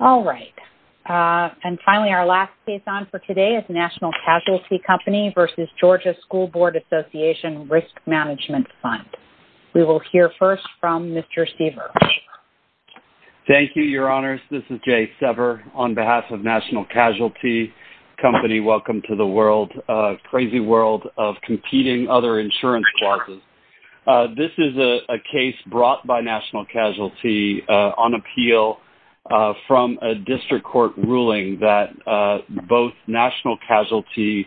All right. And finally, our last case on for today is National Casualty Company v. Georgia School Board Association-Risk Management Fund. We will hear first from Mr. Seaver. Thank you, Your Honors. This is Jay Sever on behalf of National Casualty Company. Welcome to the world, crazy world of competing other insurance clauses. This is a case brought by National Casualty on appeal from a district court ruling that both National Casualty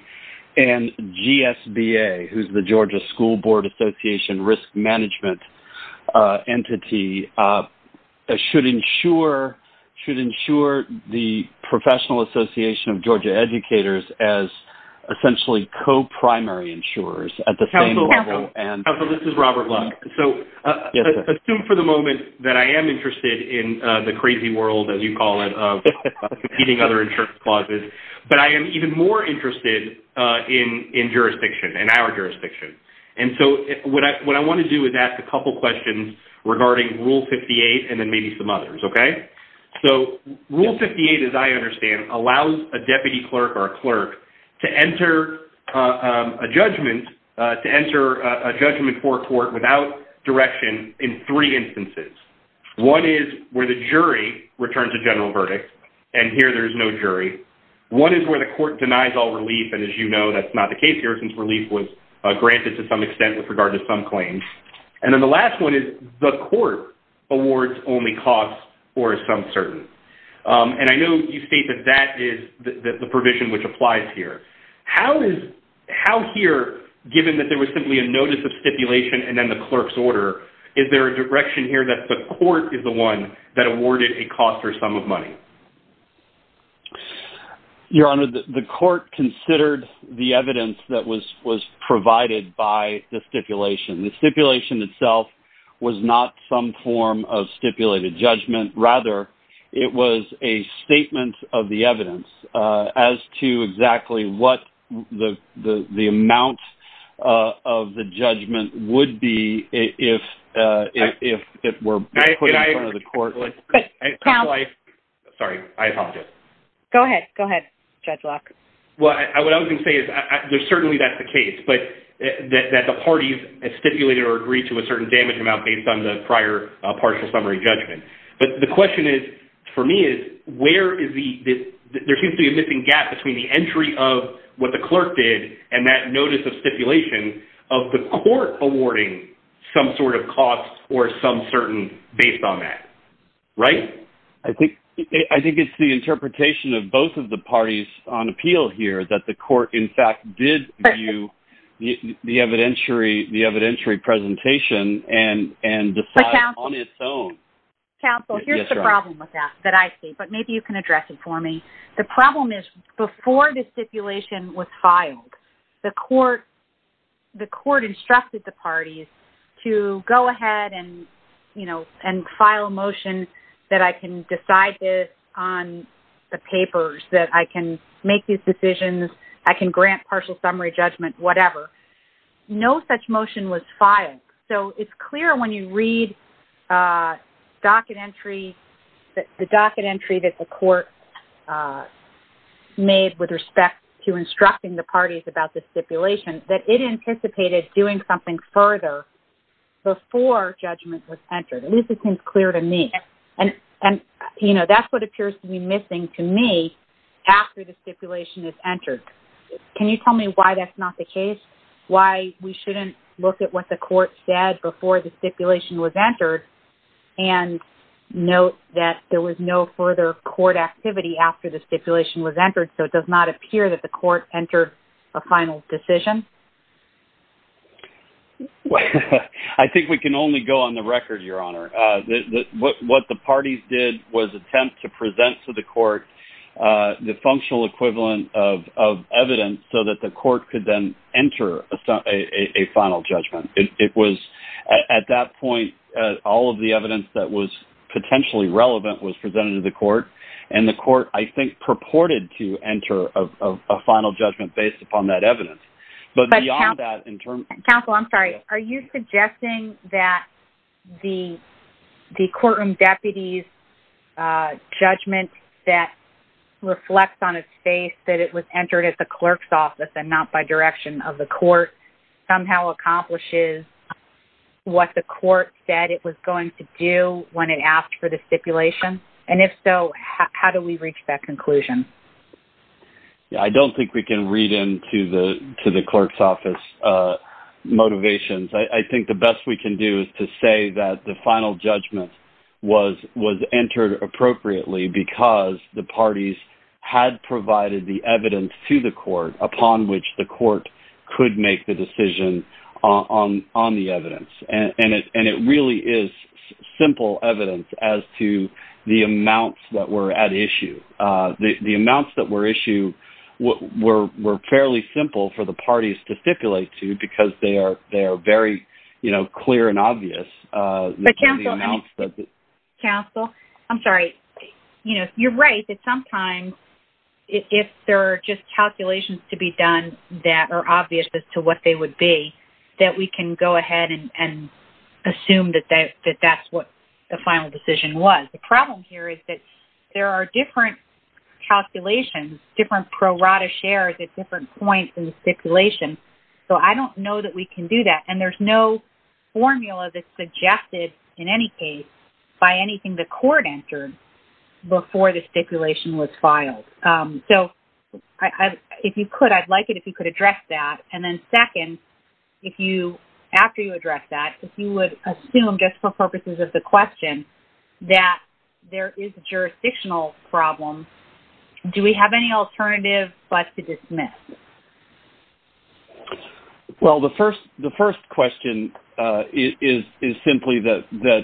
and GSBA, who's the Georgia School Board Association-Risk Management entity, should insure the Professional Association of Georgia Educators as essentially co-primary insurers at the same level. Counsel, this is Robert Lund. So assume for the moment that I am interested in the crazy world, as you call it, of competing other insurance clauses, but I am even more interested in jurisdiction, in our jurisdiction. And so what I want to do is ask a couple questions regarding Rule 58 and then maybe some others, okay? So Rule 58, as I understand, allows a deputy clerk or a clerk to enter a judgment for a court without direction in three instances. One is where the jury returns a general verdict, and here there is no jury. One is where the court denies all relief, and as you know, that's not the case here, since relief was granted to some extent with regard to some claims. And then the last one is the court awards only costs or is some certain. And I know you state that that is the provision which applies here. How here, given that there was simply a notice of stipulation and then the clerk's order, is there a direction here that the court is the one that awarded a cost or sum of money? Your Honor, the court considered the evidence that was provided by the stipulation. The stipulation itself was not some form of stipulated judgment. Rather, it was a statement of the evidence as to exactly what the amount of the judgment would be if it were put in front of the court. Sorry, I apologize. Go ahead. Go ahead, Judge Locke. Well, what I was going to say is certainly that's the case, but that the parties stipulated or agreed to a certain damage amount based on the prior partial summary judgment. But the question for me is where is the – there seems to be a missing gap between the entry of what the clerk did and that notice of stipulation of the court awarding some sort of cost or some certain – based on that. Right? I think it's the interpretation of both of the parties on appeal here that the court, in fact, did view the evidentiary presentation and decided on its own. Counsel, here's the problem with that that I see, but maybe you can address it for me. The problem is before the stipulation was filed, the court instructed the parties to go ahead and, you know, and file a motion that I can decide this on the papers, that I can make these decisions, I can grant partial summary judgment, whatever. No such motion was filed. So it's clear when you read the docket entry that the court made with respect to instructing the parties about the stipulation that it anticipated doing something further before judgment was entered. At least it seems clear to me. And, you know, that's what appears to be missing to me after the stipulation is entered. Can you tell me why that's not the case? Why we shouldn't look at what the court said before the stipulation was entered and note that there was no further court activity after the stipulation was entered so it does not appear that the court entered a final decision? I think we can only go on the record, Your Honor. What the parties did was attempt to present to the court the functional equivalent of evidence so that the court could then enter a final judgment. It was at that point all of the evidence that was potentially relevant was presented to the court, and the court, I think, purported to enter a final judgment based upon that evidence. Counsel, I'm sorry. Are you suggesting that the courtroom deputy's judgment that reflects on its face that it was entered at the clerk's office and not by direction of the court somehow accomplishes what the court said it was going to do when it asked for the stipulation? And if so, how do we reach that conclusion? I don't think we can read into the clerk's office motivations. I think the best we can do is to say that the final judgment was entered appropriately because the parties had provided the evidence to the court upon which the court could make the decision on the evidence. And it really is simple evidence as to the amounts that were at issue. The amounts that were issued were fairly simple for the parties to stipulate to because they are very clear and obvious. Counsel, I'm sorry. You're right that sometimes if there are just calculations to be done that are obvious as to what they would be, that we can go ahead and assume that that's what the final decision was. The problem here is that there are different calculations, different prorata shares at different points in the stipulation. So I don't know that we can do that. And there's no formula that's suggested in any case by anything the court entered before the stipulation was filed. So if you could, I'd like it if you could address that. And then second, after you address that, if you would assume just for purposes of the question that there is a jurisdictional problem, do we have any alternative but to dismiss? Well, the first question is simply that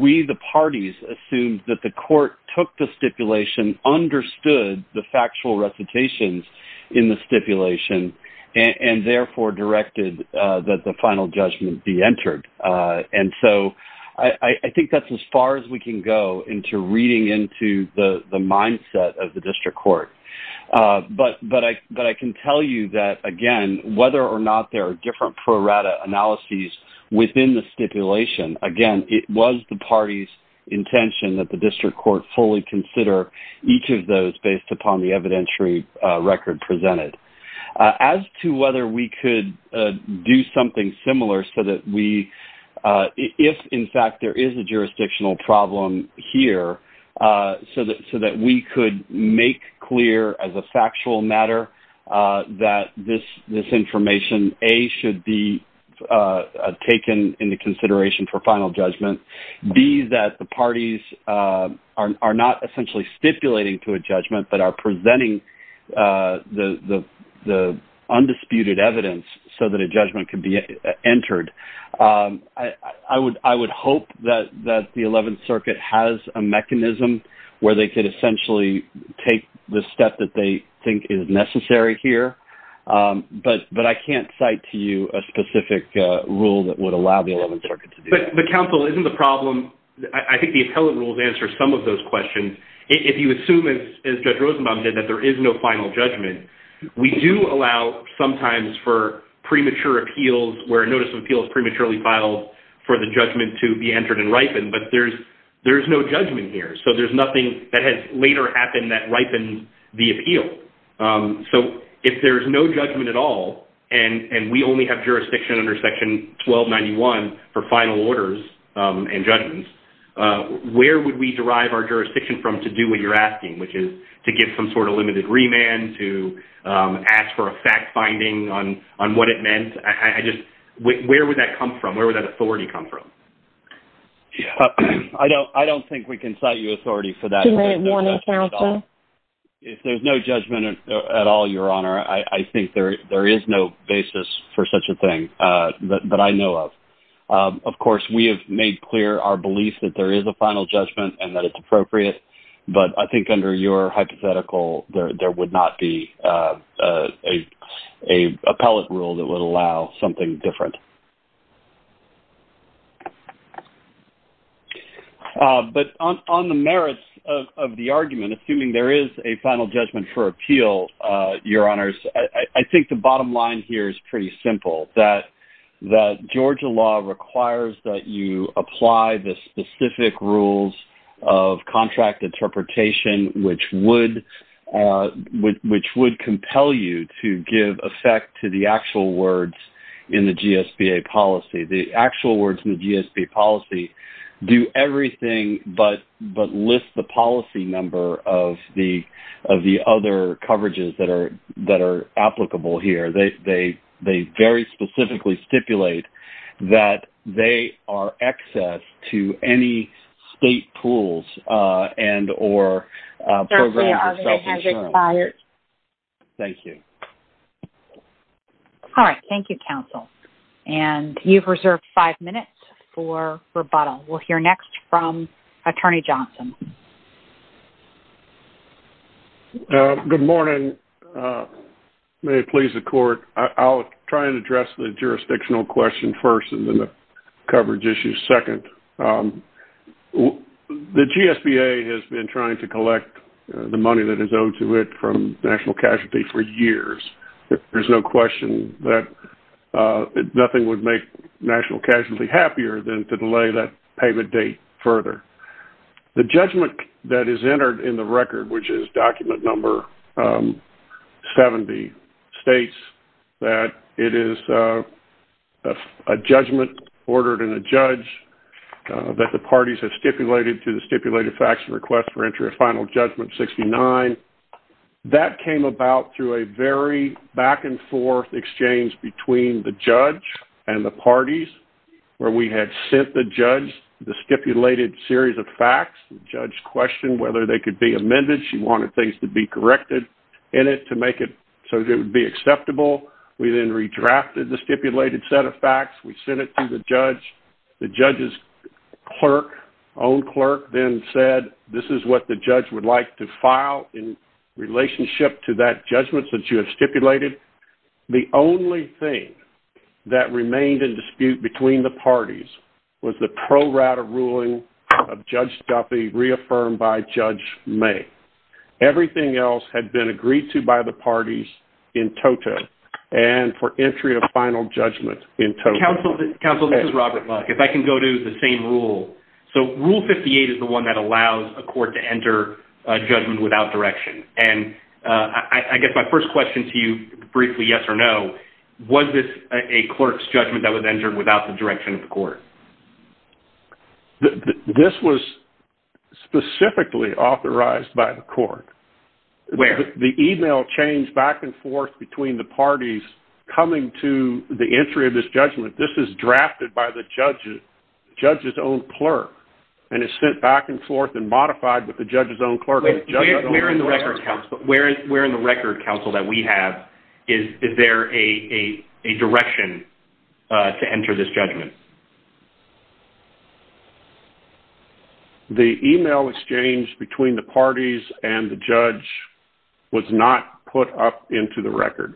we, the parties, assumed that the court took the stipulation, understood the factual recitations in the stipulation, and therefore directed that the final judgment be entered. And so I think that's as far as we can go into reading into the mindset of the district court. But I can tell you that, again, whether or not there are different prorata analyses within the stipulation, again, it was the party's intention that the district court fully consider each of those based upon the evidentiary record presented. As to whether we could do something similar so that we, if in fact there is a jurisdictional problem here, so that we could make clear as a factual matter that this information, A, should be taken into consideration for final judgment, B, that the parties are not essentially stipulating to a judgment but are presenting the undisputed evidence so that a judgment could be entered. I would hope that the Eleventh Circuit has a mechanism where they could essentially take the step that they think is necessary here. But I can't cite to you a specific rule that would allow the Eleventh Circuit to do that. But, counsel, isn't the problem... I think the appellate rules answer some of those questions. If you assume, as Judge Rosenbaum did, that there is no final judgment, we do allow sometimes for premature appeals where a notice of appeal is prematurely filed for the judgment to be entered and ripened, but there's no judgment here. So there's nothing that has later happened that ripened the appeal. So if there's no judgment at all and we only have jurisdiction under Section 1291 for final orders and judgments, where would we derive our jurisdiction from to do what you're asking, which is to give some sort of limited remand, to ask for a fact-finding on what it meant? Where would that come from? Where would that authority come from? I don't think we can cite you authority for that. You may want to, counsel. If there's no judgment at all, Your Honour, I think there is no basis for such a thing that I know of. Of course, we have made clear our belief that there is a final judgment and that it's appropriate, but I think under your hypothetical, there would not be an appellate rule that would allow something different. But on the merits of the argument, assuming there is a final judgment for appeal, Your Honours, I think the bottom line here is pretty simple, that Georgia law requires that you apply the specific rules of contract interpretation, which would compel you to give effect to the actual words in the GSBA policy. The actual words in the GSBA policy do everything but list the policy number of the other coverages that are applicable here. They very specifically stipulate that they are access to any state pools and or programs of self-assurance. Thank you. All right. Thank you, counsel. And you've reserved five minutes for rebuttal. We'll hear next from Attorney Johnson. Good morning. May it please the Court, I'll try and address the jurisdictional question first and then the coverage issue second. The GSBA has been trying to collect the money that is owed to it from national casualty for years. There's no question that nothing would make national casualty happier than to delay that payment date further. The judgment that is entered in the record, which is document number 70, states that it is a judgment ordered in a judge that the parties have stipulated to the stipulated fax request for entry of final judgment 69. That came about through a very back-and-forth exchange between the judge and the parties where we had sent the judge the stipulated series of facts. The judge questioned whether they could be amended. She wanted things to be corrected in it to make it so that it would be acceptable. We then redrafted the stipulated set of facts. We sent it to the judge. The judge's own clerk then said, this is what the judge would like to file in relationship to that judgment that you have stipulated. The only thing that remained in dispute between the parties was the pro-rata ruling of Judge Duffy reaffirmed by Judge May. Everything else had been agreed to by the parties in toto and for entry of final judgment in toto. Counsel, this is Robert Buck. If I can go to the same rule. Rule 58 is the one that allows a court to enter a judgment without direction. I guess my first question to you briefly, yes or no, was this a clerk's judgment that was entered without the direction of the court? This was specifically authorized by the court. Where? The email changed back and forth between the parties coming to the entry of this judgment. This is drafted by the judge's own clerk. It's sent back and forth and modified with the judge's own clerk. Where in the record, counsel, that we have, is there a direction to enter this judgment? The email exchange between the parties and the judge was not put up in to the record.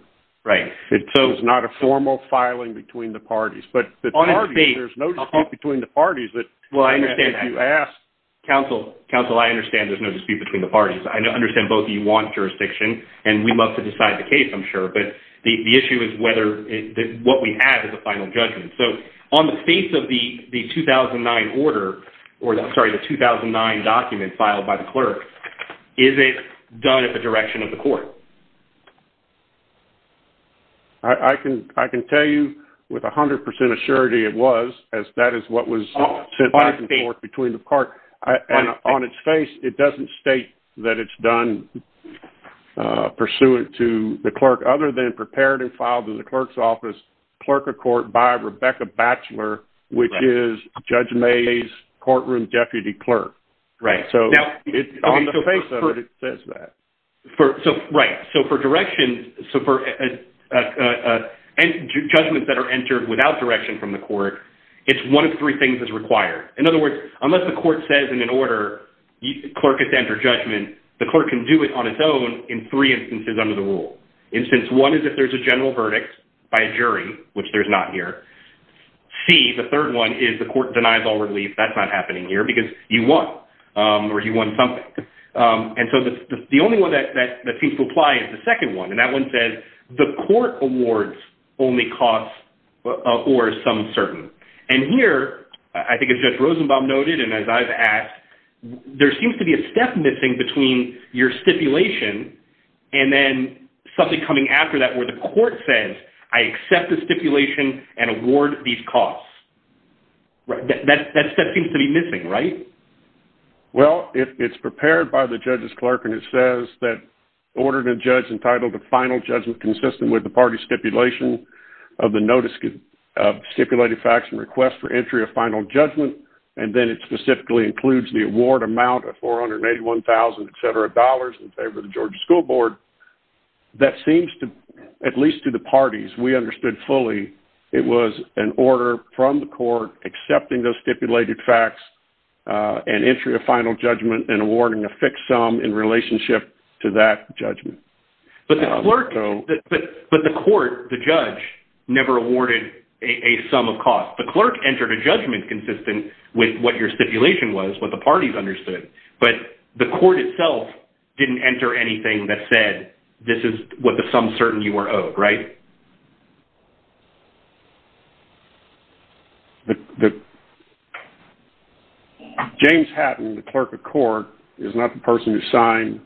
It was not a formal filing between the parties. But there's no dispute between the parties that you ask. Counsel, I understand there's no dispute between the parties. I understand both of you want jurisdiction and we'd love to decide the case, I'm sure. But the issue is what we have as a final judgment. On the face of the 2009 document filed by the clerk, is it done at the direction of the court? I can tell you with 100% assurity it was, as that is what was sent back and forth between the court. On its face, it doesn't state that it's done pursuant to the clerk, other than prepared and filed in the clerk's office, clerk of court by Rebecca Batchelor, which is Judge May's courtroom deputy clerk. Right. On the face of it, it says that. Right. For judgments that are entered without direction from the court, it's one of three things that's required. In other words, unless the court says in an order, the clerk has to enter judgment, the clerk can do it on its own in three instances under the rule. Instance one is if there's a general verdict by a jury, which there's not here. C, the third one, is the court denies all relief. That's not happening here because you won or you won something. The only one that seems to apply is the second one, and that one says the court awards only costs or some certain. Here, I think as Judge Rosenbaum noted and as I've asked, there seems to be a step missing between your stipulation and then something coming after that where the court says, I accept the stipulation and award these costs. That step seems to be missing, right? Well, it's prepared by the judge's clerk, and it says that ordered a judge entitled to final judgment consistent with the party stipulation of the notice of stipulated facts and request for entry of final judgment, and then it specifically includes the award amount of $481,000, et cetera, in favor of the Georgia School Board. That seems to, at least to the parties, we understood fully, it was an order from the court accepting those stipulated facts and entry of final judgment and awarding a fixed sum in relationship to that judgment. But the court, the judge, never awarded a sum of cost. The clerk entered a judgment consistent with what your stipulation was, what the parties understood, but the court itself didn't enter anything that said this is what the sum certain you were owed, right? James Hatton, the clerk of court, is not the person who signed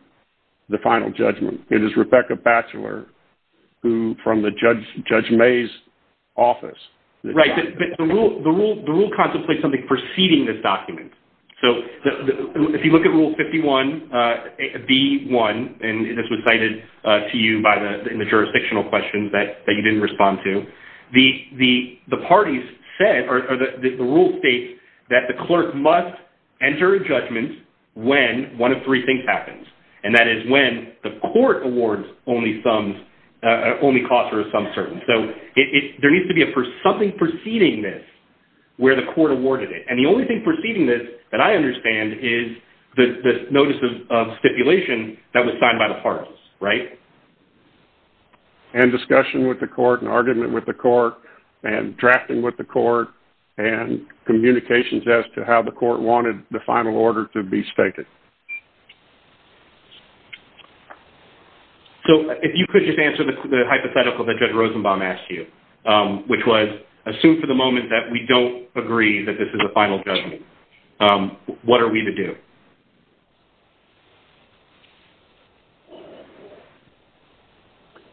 the final judgment. It is Rebecca Batchelor from Judge May's office. Right, but the rule contemplates something preceding this document. So if you look at Rule 51B1, and this was cited to you in the jurisdictional questions that you didn't respond to, the parties said, or the rule states that the clerk must enter a judgment when one of three things happens, and that is when the court awards only costs or a sum certain. So there needs to be something preceding this where the court awarded it. And the only thing preceding this that I understand is the notice of stipulation that was signed by the parties, right? And discussion with the court and argument with the court and drafting with the court and communications as to how the court wanted the final order to be stated. So if you could just answer the hypothetical that Judge Rosenbaum asked you, which was assume for the moment that we don't agree that this is a final judgment, what are we to do?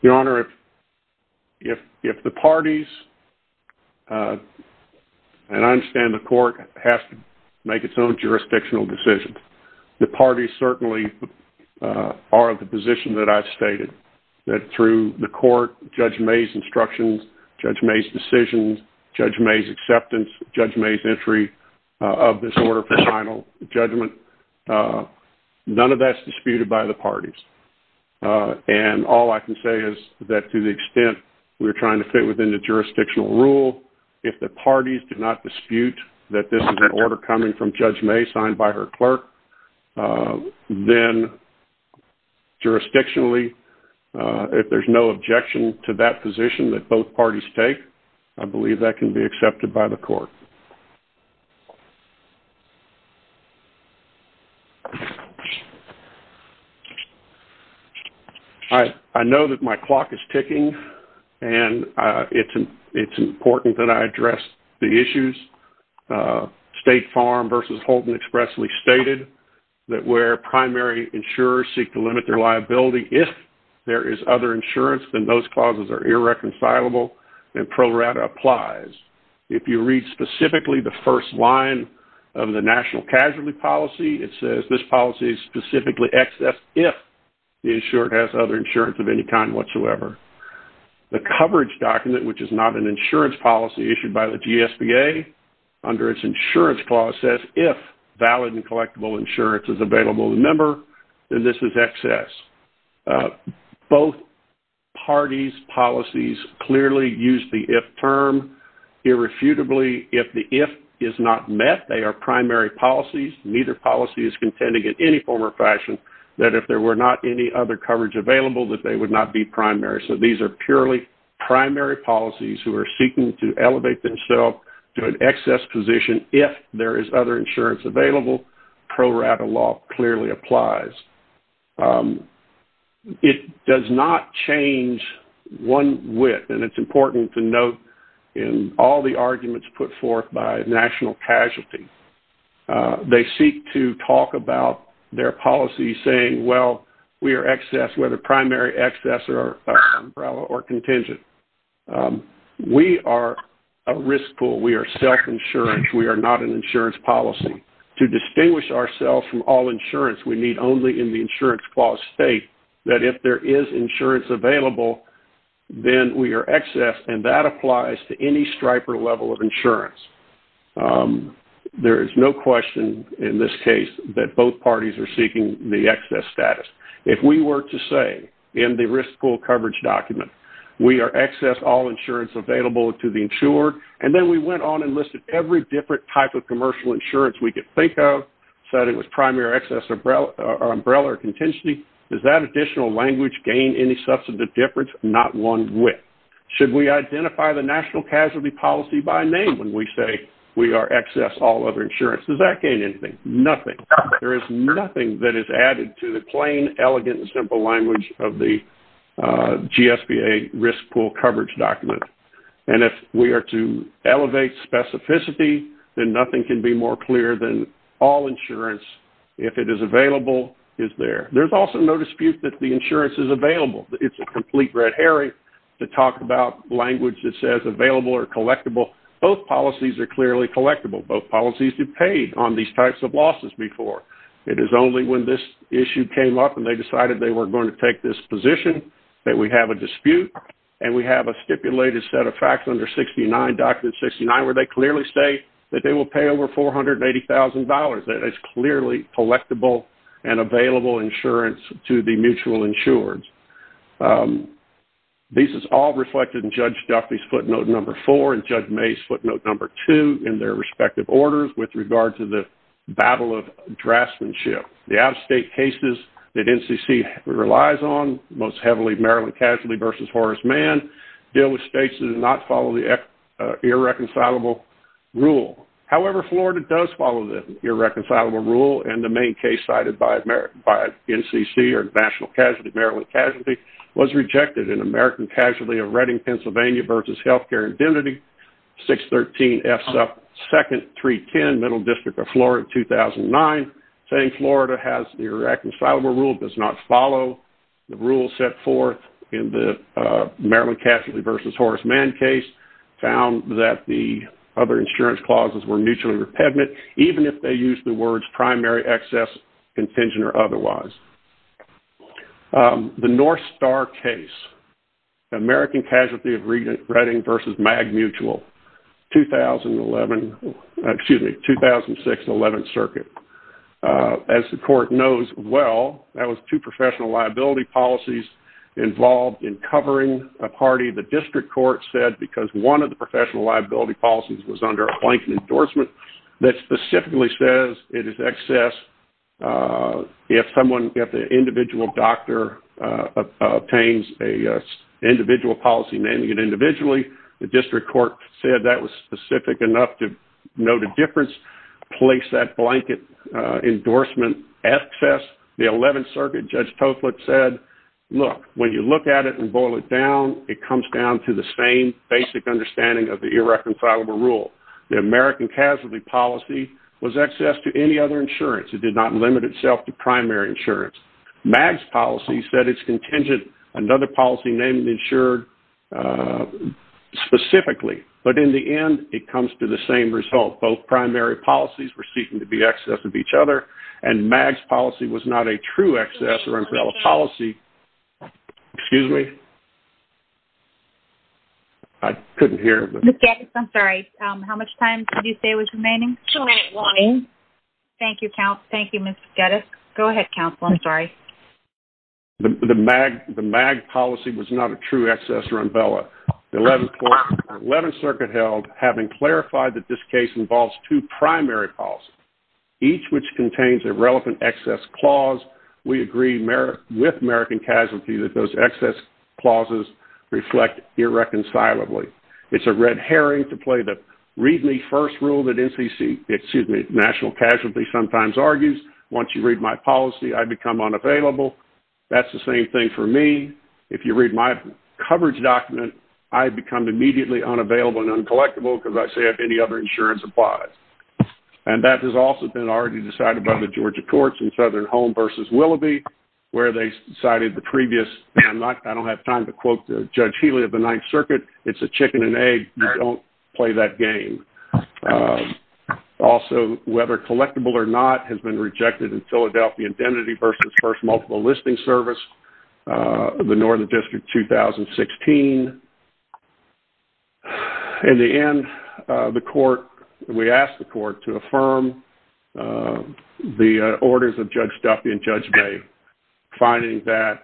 Your Honor, if the parties, and I understand the court has to make its own jurisdictional decisions, the parties certainly are of the position that I've stated, that through the court, Judge May's instructions, Judge May's decisions, Judge May's acceptance, Judge May's entry of this order for final judgment, none of that's disputed by the parties. And all I can say is that to the extent we're trying to fit within the jurisdictional rule, if the parties do not dispute that this is an order coming from Judge May signed by her clerk, then jurisdictionally, if there's no objection to that position that both parties take, I know that my clock is ticking, and it's important that I address the issues. State Farm versus Holton expressly stated that where primary insurers seek to limit their liability, if there is other insurance, then those clauses are irreconcilable, and Pro Rata applies. If you read specifically the first line of the national casualty policy, it says this policy is specifically excess if the insurer has other insurance of any kind whatsoever. The coverage document, which is not an insurance policy issued by the GSBA, under its insurance clause says if valid and collectible insurance is available to the member, then this is excess. Both parties' policies clearly use the if term. Irrefutably, if the if is not met, they are primary policies. Neither policy is contending in any form or fashion that if there were not any other coverage available, that they would not be primary. So these are purely primary policies who are seeking to elevate themselves to an excess position if there is other insurance available. Pro Rata law clearly applies. It does not change one whit, and it's important to note in all the arguments put forth by national casualty, they seek to talk about their policy saying, well, we are excess, whether primary, excess, umbrella, or contingent. We are a risk pool. We are self-insurance. We are not an insurance policy. To distinguish ourselves from all insurance, we need only in the insurance clause state that if there is insurance available, then we are excess, and that applies to any striper level of insurance. There is no question in this case that both parties are seeking the excess status. If we were to say in the risk pool coverage document, we are excess all insurance available to the insured, and then we went on and listed every different type of commercial insurance we could think of, said it was primary, excess, umbrella, or contingency, does that additional language gain any substantive difference? Not one whit. Should we identify the national casualty policy by name when we say we are excess all other insurance? Does that gain anything? Nothing. There is nothing that is added to the plain, elegant, and simple language of the GSBA risk pool coverage document. And if we are to elevate specificity, then nothing can be more clear than all insurance, if it is available, is there. There's also no dispute that the insurance is available. It's a complete red herring to talk about language that says available or collectible. Both policies are clearly collectible. Both policies have paid on these types of losses before. It is only when this issue came up and they decided they were going to take this position that we have a dispute and we have a stipulated set of facts under 69, document 69, where they clearly state that they will pay over $480,000. That is clearly collectible and available insurance to the mutual insurers. This is all reflected in Judge Duffy's footnote number four and Judge May's footnote number two in their respective orders with regard to the battle of draftsmanship. The out-of-state cases that NCC relies on most heavily, Maryland Casualty v. Horace Mann, deal with states that do not follow the irreconcilable rule. However, Florida does follow the irreconcilable rule, and the main case cited by NCC or National Casualty, Maryland Casualty, was rejected in American Casualty of Reading, Pennsylvania v. Healthcare Identity, 613F2nd 310, Middle District of Florida, 2009, saying Florida has the irreconcilable rule, does not follow. The rule set forth in the Maryland Casualty v. Horace Mann case found that the other insurance clauses were mutually repugnant, even if they used the words primary, excess, contingent, or otherwise. The North Star case, American Casualty of Reading v. MAG Mutual, 2006, 11th Circuit. As the court knows well, that was two professional liability policies involved in covering a party. The district court said because one of the professional liability policies was under a blanket endorsement that specifically says it is excess. If an individual doctor obtains an individual policy, naming it individually, the district court said that was specific enough to note a difference, place that blanket endorsement, excess. The 11th Circuit Judge Toflik said, look, when you look at it and boil it down, it comes down to the same basic understanding of the irreconcilable rule. The American Casualty policy was excess to any other insurance. It did not limit itself to primary insurance. MAG's policy said it's contingent. Another policy named insured specifically, but in the end, it comes to the same result. Both primary policies were seeking to be excess of each other, and MAG's policy was not a true excess or umbrella policy. Excuse me? I couldn't hear. Ms. Geddes, I'm sorry. How much time did you say was remaining? Two minutes. Thank you, Ms. Geddes. Go ahead, counsel. I'm sorry. The MAG policy was not a true excess or umbrella. The 11th Circuit held, having clarified that this case involves two primary policies, each which contains a relevant excess clause, we agree with American Casualty that those excess clauses reflect irreconcilably. It's a red herring to play the read-me-first rule that NCC, excuse me, National Casualty sometimes argues. Once you read my policy, I become unavailable. That's the same thing for me. If you read my coverage document, I become immediately unavailable and uncollectible because I say if any other insurance applies. And that has also been already decided by the Georgia Courts in Southern Home versus Willoughby where they decided the previous, and I don't have time to quote Judge Healey of the 9th Circuit, it's a chicken and egg. You don't play that game. Also, whether collectible or not has been rejected in Philadelphia Identity versus First Multiple Listing Service, the Northern District 2016. In the end, the court, we asked the court to affirm the orders of Judge Duffy and Judge May, finding that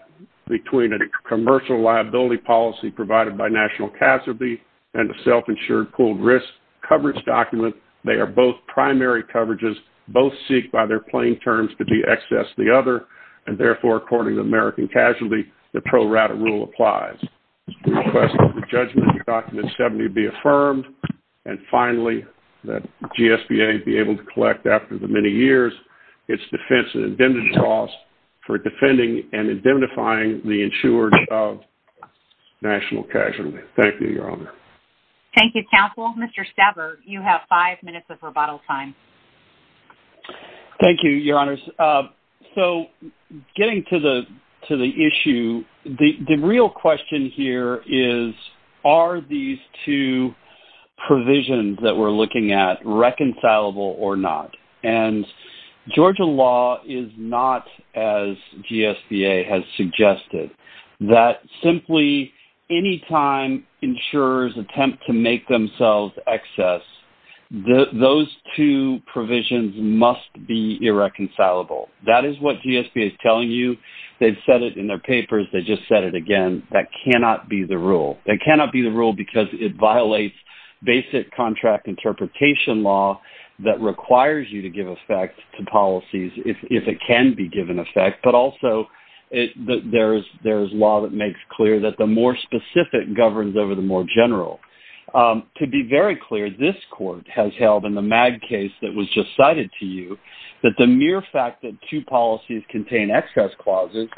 between a commercial liability policy provided by National Casualty and a self-insured pooled risk coverage document, they are both primary coverages, both seek by their plain terms to de-excess the other, and therefore, according to American Casualty, the pro rata rule applies. We request that the judgment in Document 70 be affirmed, and finally, that GSBA be able to collect after the many years its defense and indemnity costs for defending and indemnifying the insurers of National Casualty. Thank you, Your Honor. Thank you, Counsel. Mr. Staber, you have five minutes of rebuttal time. Thank you, Your Honors. So, getting to the issue, the real question here is, are these two provisions that we're looking at reconcilable or not? And Georgia law is not, as GSBA has suggested, that simply any time insurers attempt to make themselves excess, those two provisions must be irreconcilable. That is what GSBA is telling you. They've said it in their papers. They just said it again. That cannot be the rule. That cannot be the rule because it violates basic contract interpretation law that requires you to give effect to policies if it can be given effect, but also there is law that makes clear that the more specific governs over the more general. To be very clear, this court has held in the MAG case that was just cited to you that the mere fact that two policies contain excess clauses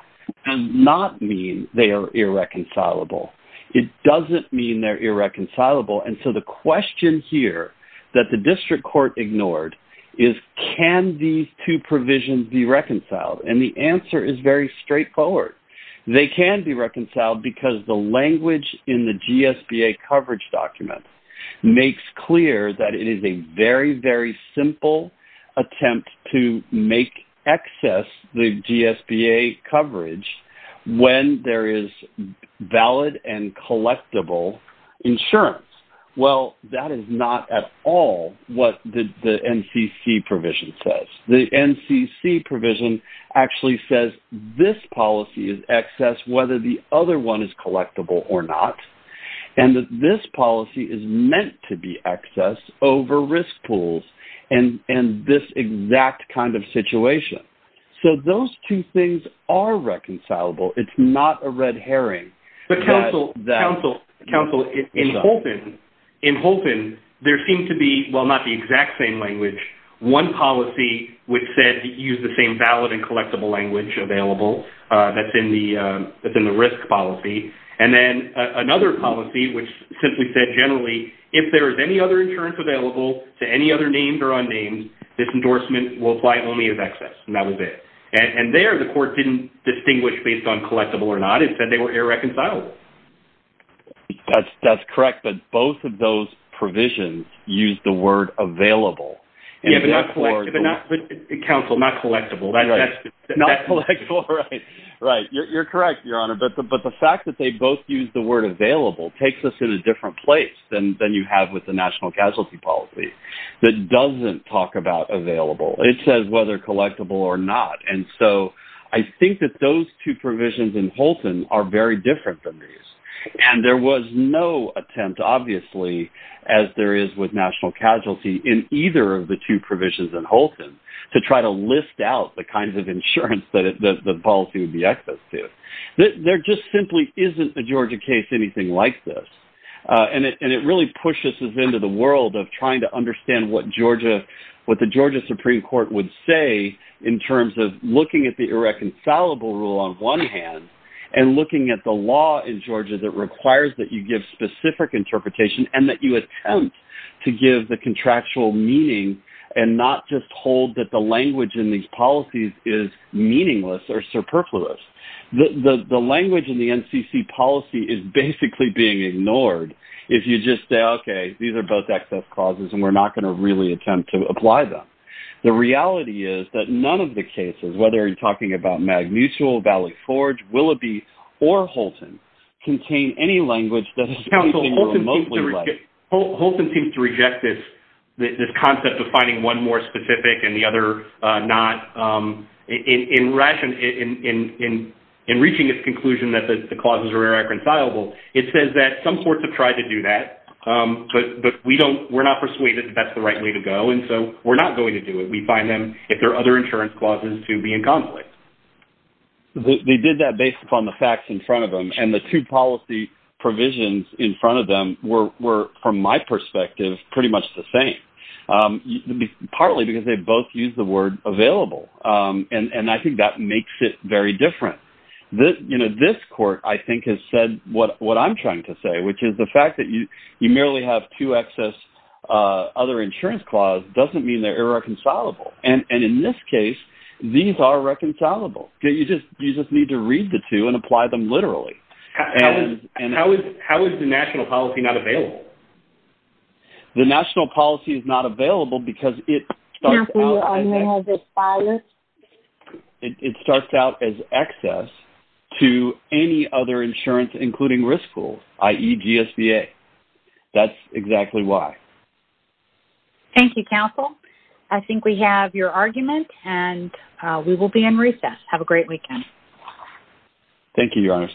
does not mean they are irreconcilable. It doesn't mean they're irreconcilable. And so the question here that the district court ignored is, can these two provisions be reconciled? And the answer is very straightforward. They can be reconciled because the language in the GSBA coverage document makes clear that it is a very, very simple attempt to make excess the GSBA coverage when there is valid and collectible insurance. Well, that is not at all what the NCC provision says. The NCC provision actually says this policy is excess whether the other one is collectible or not, and that this policy is meant to be excess over risk pools and this exact kind of situation. So those two things are reconcilable. It's not a red herring. But, counsel, in Holton, there seemed to be, well, not the exact same language, one policy which said to use the same valid and collectible language available that's in the risk policy, and then another policy which simply said generally, if there is any other insurance available to any other names or unnamed, this endorsement will apply only as excess, and that was it. And there the court didn't distinguish based on collectible or not. It said they were irreconcilable. That's correct, but both of those provisions used the word available. Yeah, but not collectible. Counsel, not collectible. Not collectible, right. You're correct, Your Honor, but the fact that they both used the word available takes us to a different place than you have with the national casualty policy that doesn't talk about available. It says whether collectible or not. And so I think that those two provisions in Holton are very different than these, and there was no attempt, obviously, as there is with national casualty in either of the two provisions in Holton, to try to list out the kinds of insurance that the policy would be excess to. There just simply isn't a Georgia case anything like this, and it really pushes us into the world of trying to understand what Georgia, what the Georgia Supreme Court would say in terms of looking at the irreconcilable rule on one hand and looking at the law in Georgia that requires that you give specific interpretation and that you attempt to give the contractual meaning and not just hold that the language in these policies is meaningless or superfluous. The language in the NCC policy is basically being ignored if you just say, okay, these are both excess clauses and we're not going to really attempt to apply them. The reality is that none of the cases, whether you're talking about Magnusial, Valley Forge, Willoughby, or Holton contain any language that is reasonably or mostly like it. Holton seems to reject this concept of finding one more specific and the other not. In reaching its conclusion that the clauses are irreconcilable, it says that some courts have tried to do that, but we're not persuaded that that's the right way to go, and so we're not going to do it. We find them if there are other insurance clauses to be in conflict. They did that based upon the facts in front of them, and the two policy provisions in front of them were, from my perspective, pretty much the same, partly because they both used the word available, and I think that makes it very different. This court, I think, has said what I'm trying to say, which is the fact that you merely have two excess other insurance clauses doesn't mean they're irreconcilable, and in this case, these are reconcilable. You just need to read the two and apply them literally. How is the national policy not available? The national policy is not available because it starts out as excess. It starts out as excess to any other insurance, including risk pool, i.e. GSBA. That's exactly why. Thank you, counsel. I think we have your argument, and we will be in recess. Have a great weekend. Thank you, Your Honor.